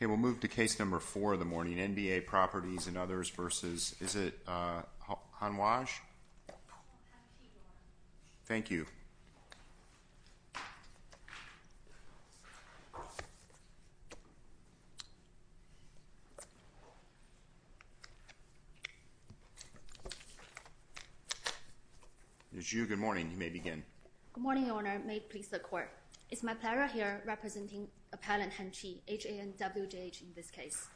We'll move to case number four of the morning, NBA Properties and Others v. is it HANWJH? Thank you. It's you. Good morning. Good morning, Your Honor. It's my pleasure here representing Appellant Han Chi, HANWJH, in this case.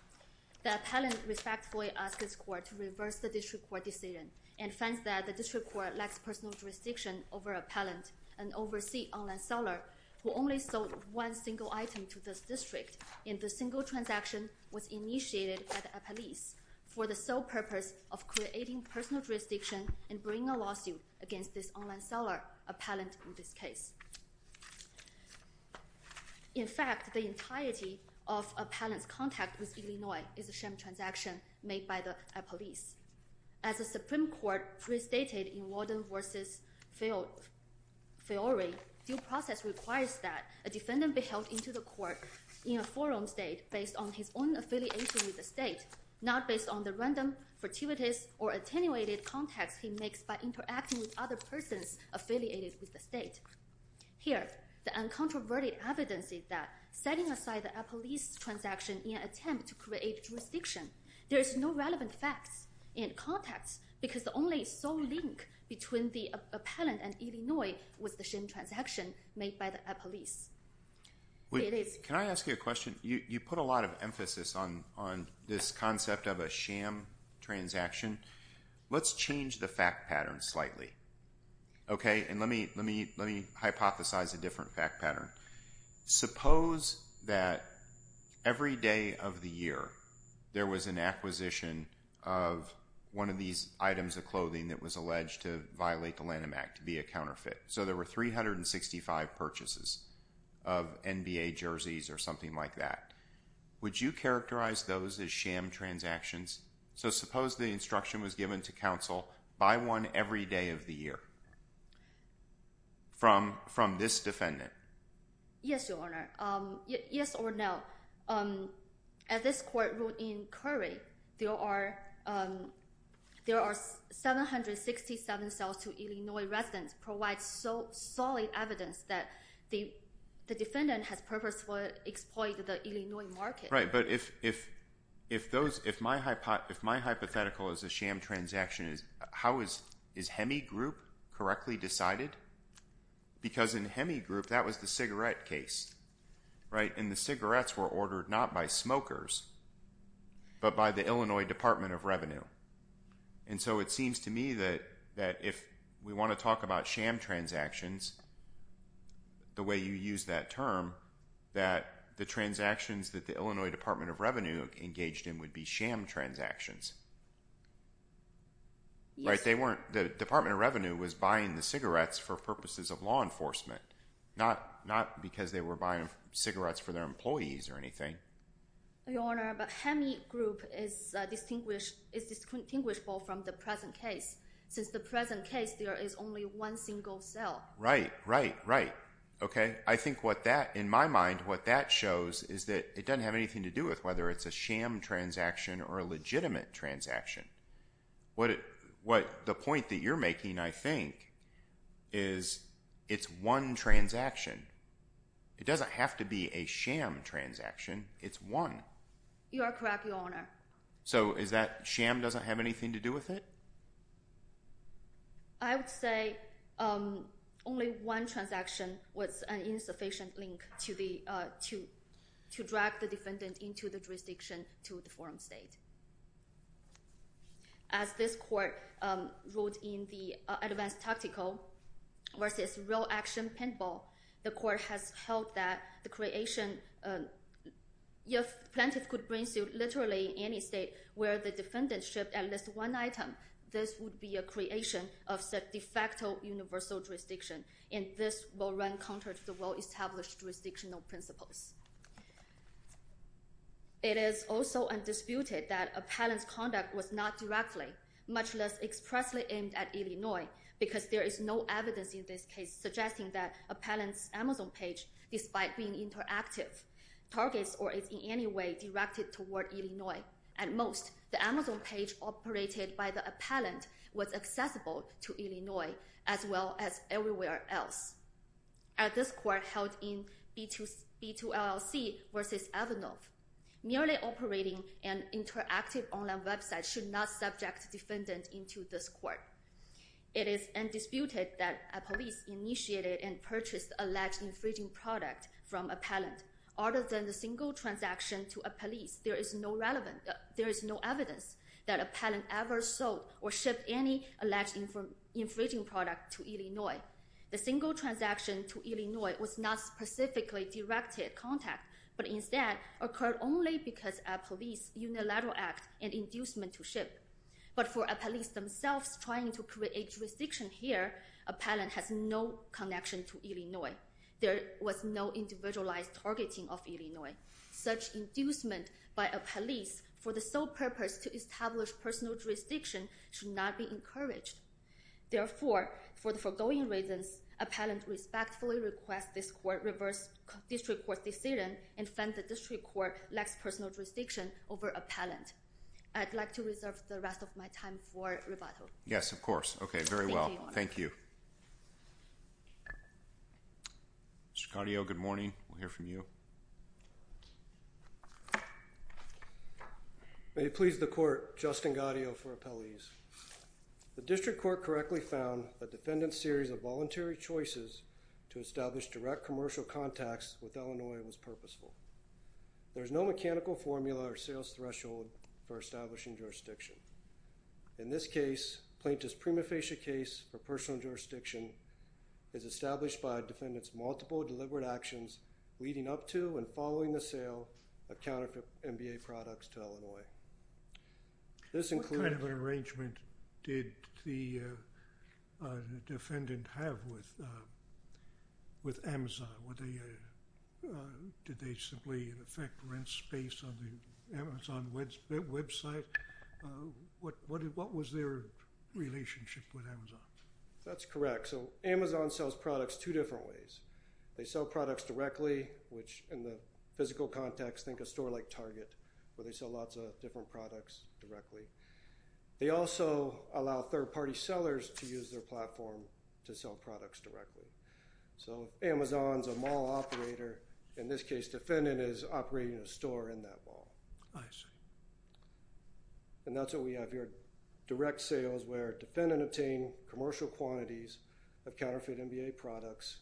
The appellant respectfully asks his court to reverse the district court decision and finds that the district court lacks personal jurisdiction over appellant, an overseas online seller who only sold one single item to this district and the single transaction was initiated by the appellees for the sole purpose of creating personal jurisdiction and bringing a lawsuit against this online seller, appellant in this case. In fact, the entirety of appellant's contact with Illinois is the same transaction made by the appellees. As the Supreme Court pre-stated in Warden v. Fiore, due process requires that a defendant be held into the court in a forum state based on his own affiliation with the state, not based on the random, fortuitous, or attenuated contacts he makes by interacting with other persons affiliated with the state. Here, the uncontroverted evidence is that setting aside the appellees' transaction in an attempt to create jurisdiction, there is no relevant facts in context because the only sole link between the appellant and Illinois was the same transaction made by the appellees. It is— Let's change the fact pattern slightly. Okay? And let me hypothesize a different fact pattern. Suppose that every day of the year there was an acquisition of one of these items of clothing that was alleged to violate the Lanham Act to be a counterfeit. So there were 365 purchases of NBA jerseys or something like that. Would you characterize those as sham transactions? So suppose the instruction was given to counsel, buy one every day of the year from this defendant. Yes, Your Honor. Yes or no. At this courtroom in Curry, there are 767 sales to Illinois residents provide solid evidence that the defendant has purposefully exploited the Illinois market. Right, but if my hypothetical is a sham transaction, is HEMI group correctly decided? Because in HEMI group, that was the cigarette case, right? And the cigarettes were ordered not by smokers, but by the Illinois Department of Revenue. And so it seems to me that if we want to talk about sham transactions, the way you use that term, that the transactions that the Illinois Department of Revenue engaged in would be sham transactions. The Department of Revenue was buying the cigarettes for purposes of law enforcement, not because they were buying cigarettes for their employees or anything. Your Honor, but HEMI group is distinguishable from the present case. Since the present case, there is only one single sale. Right, right, right. I think what that, in my mind, what that shows is that it doesn't have anything to do with whether it's a sham transaction or a legitimate transaction. The point that you're making, I think, is it's one transaction. It doesn't have to be a sham transaction. It's one. You are correct, Your Honor. So is that sham doesn't have anything to do with it? I would say only one transaction was an insufficient link to drag the defendant into the jurisdiction to the forum state. As this court wrote in the advanced tactical versus real action pinball, the court has held that the creation, if plaintiff could bring suit literally in any state where the defendant shipped at least one item, this would be a creation of de facto universal jurisdiction. And this will run counter to the well-established jurisdictional principles. It is also undisputed that appellant's conduct was not directly, much less expressly aimed at Illinois, because there is no evidence in this case suggesting that appellant's Amazon page, despite being interactive, targets or is in any way directed toward Illinois. At most, the Amazon page operated by the appellant was accessible to Illinois as well as everywhere else. As this court held in B2LLC versus Avinov, merely operating an interactive online website should not subject defendant into this court. It is undisputed that a police initiated and purchased alleged infringing product from appellant. Other than the single transaction to a police, there is no relevant, there is no evidence that appellant ever sold or shipped any alleged infringing product to Illinois. The single transaction to Illinois was not specifically directed contact, but instead occurred only because a police unilateral act and inducement to ship. But for appellants themselves trying to create jurisdiction here, appellant has no connection to Illinois. There was no individualized targeting of Illinois. Such inducement by a police for the sole purpose to establish personal jurisdiction should not be encouraged. Therefore, for the foregoing reasons, appellant respectfully requests this court reverse district court's decision and find the district court lacks personal jurisdiction over appellant. I'd like to reserve the rest of my time for rebuttal. Yes, of course. Okay, very well. Thank you. Mr. Gaudio, good morning. We'll hear from you. May it please the court, Justin Gaudio for appellees. The district court correctly found the defendant's series of voluntary choices to establish direct commercial contacts with Illinois was purposeful. There's no mechanical formula or sales threshold for establishing jurisdiction. In this case, plaintiff's prima facie case for personal jurisdiction is established by defendant's multiple deliberate actions leading up to and following the sale of counterfeit MBA products to Illinois. What kind of an arrangement did the defendant have with Amazon? Did they simply, in effect, rent space on the Amazon website? What was their relationship with Amazon? That's correct. So Amazon sells products two different ways. They sell products directly, which in the physical context, think a store like Target, where they sell lots of different products directly. They also allow third-party sellers to use their platform to sell products directly. So if Amazon's a mall operator, in this case, defendant is operating a store in that mall. I see. And that's what we have here. Direct sales where defendant obtained commercial quantities of counterfeit MBA products,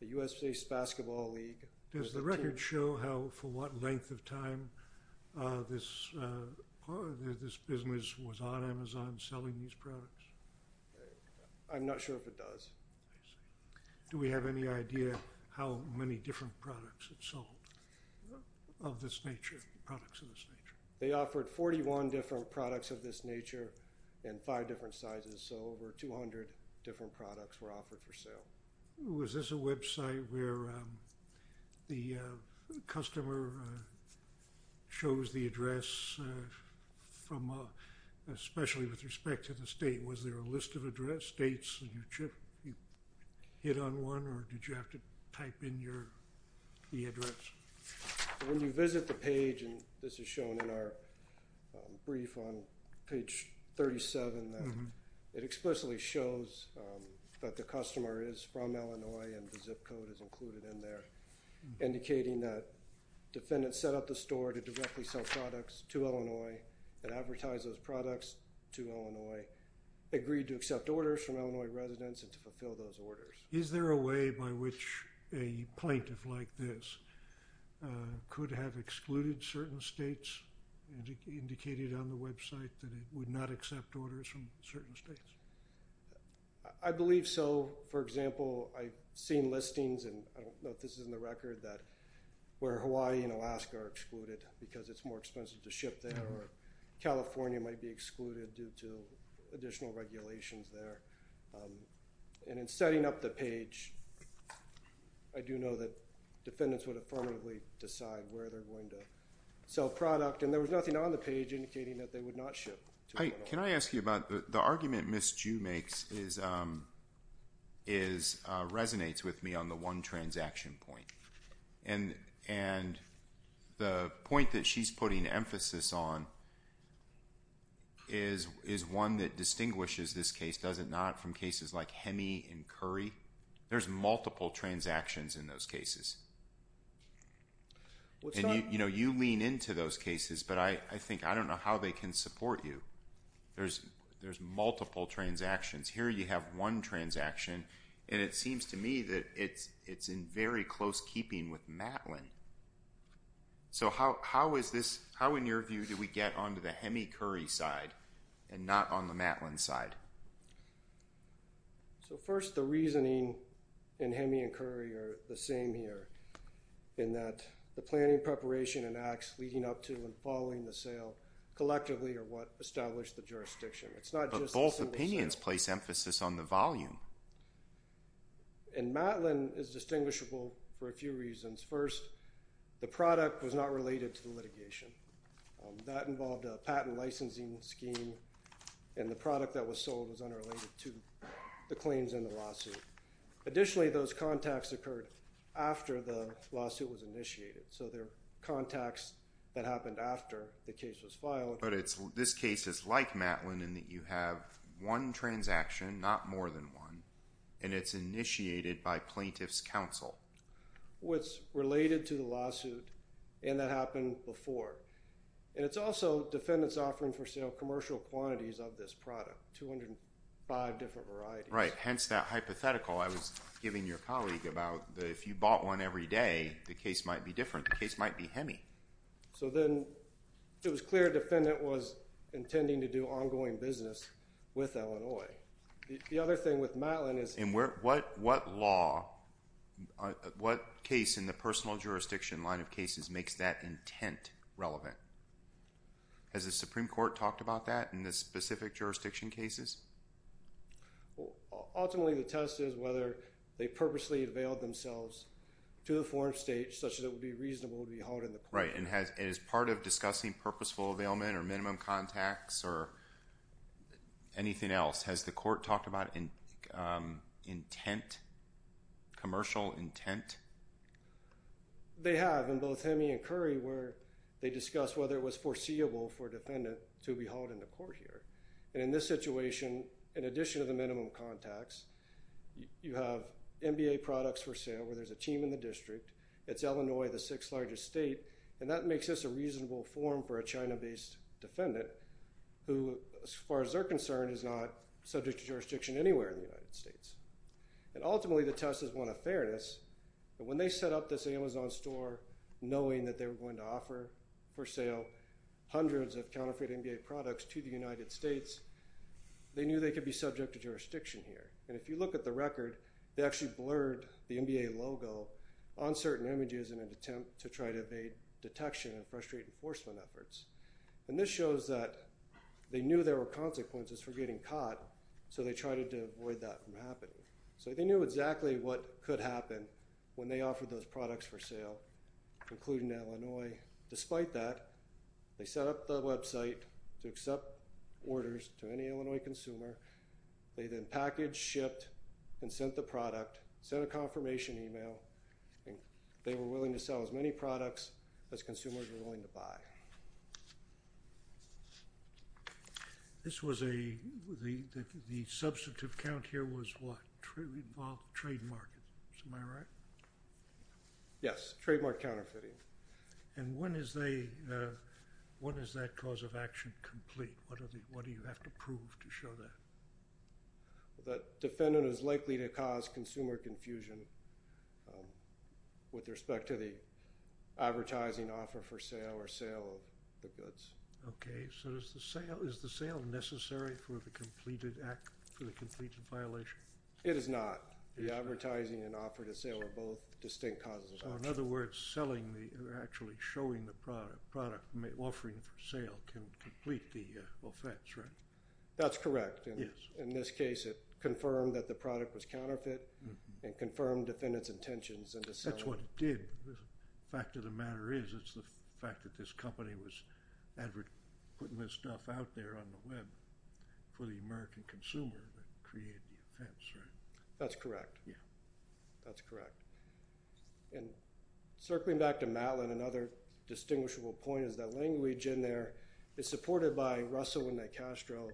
the U.S. Baseball League. Does the record show how, for what length of time, this business was on Amazon selling these products? I'm not sure if it does. Do we have any idea how many different products it sold of this nature, products of this nature? They offered 41 different products of this nature in five different sizes. So over 200 different products were offered for sale. Was this a website where the customer shows the address, especially with respect to the state? Was there a list of address states? Did you hit on one or did you have to type in the address? When you visit the page, and this is shown in our brief on page 37, it explicitly shows that the customer is from Illinois and the zip code is included in there, indicating that defendant set up the store to directly sell products to Illinois and advertise those products to Illinois, agreed to accept orders from Illinois residents and to fulfill those orders. Is there a way by which a plaintiff like this could have excluded certain states and indicated on the website that it would not accept orders from certain states? I believe so. For example, I've seen listings, and I don't know if this is in the record, where Hawaii and Alaska are excluded because it's more expensive to ship there, or California might be excluded due to additional regulations there. And in setting up the page, I do know that defendants would affirmatively decide where they're going to sell product, and there was nothing on the page indicating that they would not ship to Illinois. The argument Ms. Ju makes resonates with me on the one transaction point. And the point that she's putting emphasis on is one that distinguishes this case, does it not, from cases like Hemi and Curry? There's multiple transactions in those cases. You lean into those cases, but I think I don't know how they can support you. There's multiple transactions. Here you have one transaction, and it seems to me that it's in very close keeping with Matlin. So how in your view do we get onto the Hemi-Curry side and not on the Matlin side? So first, the reasoning in Hemi and Curry are the same here, in that the planning, preparation, and acts leading up to and following the sale collectively are what establish the jurisdiction. But both opinions place emphasis on the volume. And Matlin is distinguishable for a few reasons. First, the product was not related to the litigation. That involved a patent licensing scheme, and the product that was sold was unrelated to the claims in the lawsuit. Additionally, those contacts occurred after the lawsuit was initiated. So they're contacts that happened after the case was filed. But this case is like Matlin in that you have one transaction, not more than one, and it's initiated by plaintiff's counsel. Well, it's related to the lawsuit, and that happened before. And it's also defendants offering for sale commercial quantities of this product, 205 different varieties. Right, hence that hypothetical I was giving your colleague about if you bought one every day, the case might be different. The case might be Hemi. So then, it was clear defendant was intending to do ongoing business with Illinois. The other thing with Matlin is... And what law, what case in the personal jurisdiction line of cases makes that intent relevant? Has the Supreme Court talked about that in the specific jurisdiction cases? Ultimately, the test is whether they purposely availed themselves to the foreign states such that it would be reasonable to be hauled in the court. Right, and as part of discussing purposeful availment or minimum contacts or anything else, has the court talked about intent, commercial intent? They have in both Hemi and Curry where they discussed whether it was foreseeable for a defendant to be hauled in the court here. And in this situation, in addition to the minimum contacts, you have MBA products for sale where there's a team in the district. It's Illinois, the sixth largest state, and that makes this a reasonable forum for a China-based defendant who, as far as they're concerned, is not subject to jurisdiction anywhere in the United States. And ultimately, the test is one of fairness. When they set up this Amazon store, knowing that they were going to offer for sale hundreds of counterfeit MBA products to the United States, they knew they could be subject to jurisdiction here. And if you look at the record, they actually blurred the MBA logo on certain images in an attempt to try to evade detection and frustrate enforcement efforts. And this shows that they knew there were consequences for getting caught, so they tried to avoid that from happening. So they knew exactly what could happen when they offered those products for sale, including Illinois. Despite that, they set up the website to accept orders to any Illinois consumer. They then packaged, shipped, and sent the product, sent a confirmation email, and they were willing to sell as many products as consumers were willing to buy. This was a—the substantive count here was what? Trademarked. Am I right? Yes. Trademarked counterfeiting. And when is that cause of action complete? What do you have to prove to show that? The defendant is likely to cause consumer confusion with respect to the advertising offer for sale or sale of the goods. Okay. So is the sale necessary for the completed violation? It is not. The advertising and offer to sale are both distinct causes of action. So in other words, selling or actually showing the product, offering for sale, can complete the offense, right? That's correct. In this case, it confirmed that the product was counterfeit and confirmed the defendant's intentions into selling. That's what it did. The fact of the matter is it's the fact that this company was advert—putting this stuff out there on the web for the American consumer that created the offense, right? That's correct. That's correct. And circling back to Matlin, another distinguishable point is that language in there is supported by Russell and DeCastro,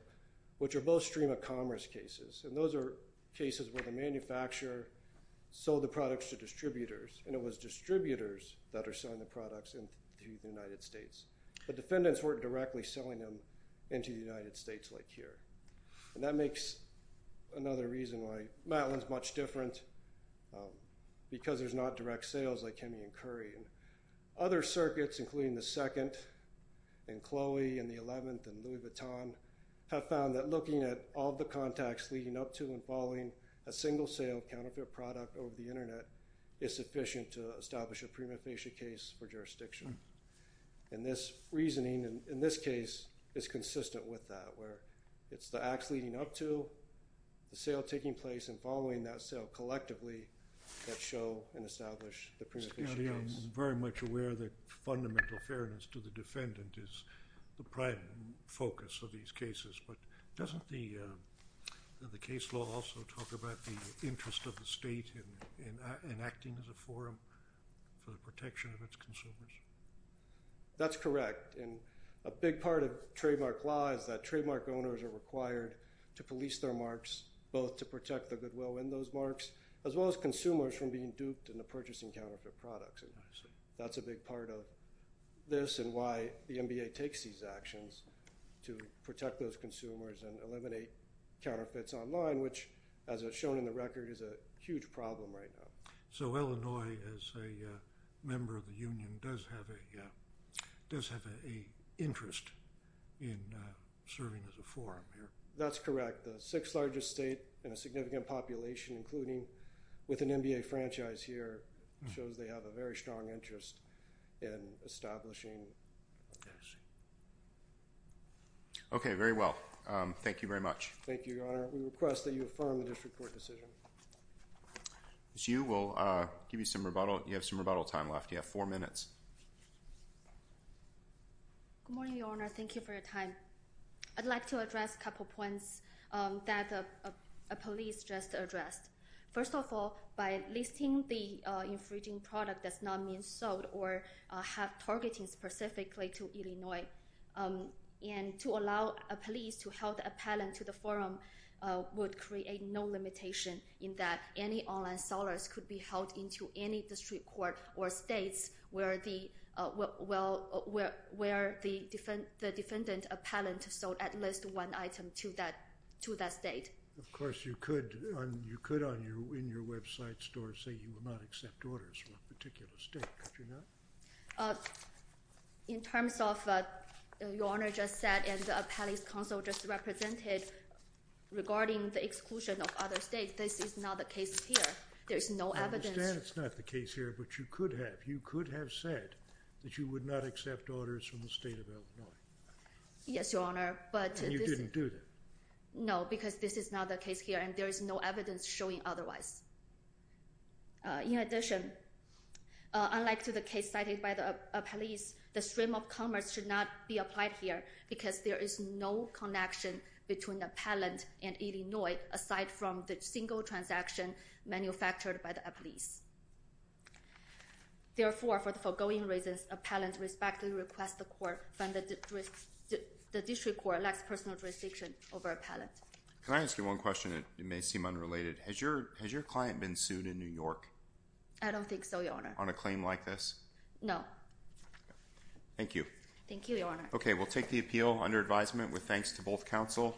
which are both stream-of-commerce cases. And those are cases where the manufacturer sold the products to distributors and it was distributors that are selling the products into the United States. The defendants weren't directly selling them into the United States like here. And that makes another reason why Matlin's much different because there's not direct sales like Heming and Curry. Other circuits, including the 2nd and Chloe and the 11th and Louis Vuitton, have found that looking at all the contacts leading up to and following a single-sale counterfeit product over the Internet is sufficient to establish a prima facie case for jurisdiction. And this reasoning in this case is consistent with that, where it's the acts leading up to the sale taking place and following that sale collectively that show and establish the prima facie case. I'm very much aware that fundamental fairness to the defendant is the prime focus of these cases, but doesn't the case law also talk about the interest of the state in acting as a forum for the protection of its consumers? That's correct. A big part of trademark law is that trademark owners are required to police their marks both to protect the goodwill in those marks as well as consumers from being duped into purchasing counterfeit products. That's a big part of this and why the NBA takes these actions to protect those consumers and eliminate counterfeits online, which, as is shown in the record, is a huge problem right now. So Illinois, as a member of the union, does have an interest in serving as a forum here? That's correct. The sixth largest state in a significant population, including with an NBA franchise here, shows they have a very strong interest in establishing... I see. Okay, very well. Thank you very much. Thank you, Your Honor. We request that you affirm the district court decision. Ms. Yu, we'll give you some rebuttal. You have some rebuttal time left. You have four minutes. Good morning, Your Honor. Thank you for your time. I'd like to address a couple points that a police just addressed. First of all, by listing the infringing product does not mean sold or have targeting specifically to Illinois. And to allow a police to hold a patent to the forum would create no limitation in that any online sellers could be held into any district court or states where the defendant appellant sold at least one item to that state. Of course, you could, in your website store, say you would not accept orders from a particular state. Could you not? In terms of what Your Honor just said and what the appellant's counsel just represented regarding the exclusion of other states, this is not the case here. There is no evidence. I understand it's not the case here, but you could have. You could have said that you would not accept orders from the state of Illinois. Yes, Your Honor, but... And you didn't do that. No, because this is not the case here and there is no evidence showing otherwise. In addition, unlike to the case cited by the appellant, the stream of commerce should not be applied here because there is no connection between the appellant and Illinois aside from the single transaction manufactured by the appellees. Therefore, for the foregoing reasons, appellant respectfully requests the court find that the district court lacks personal jurisdiction over appellant. Can I ask you one question? It may seem unrelated. Has your client been sued in New York? I don't think so, Your Honor. On a claim like this? No. Thank you. Thank you, Your Honor. Okay, we'll take the appeal under advisement with thanks to both counsel.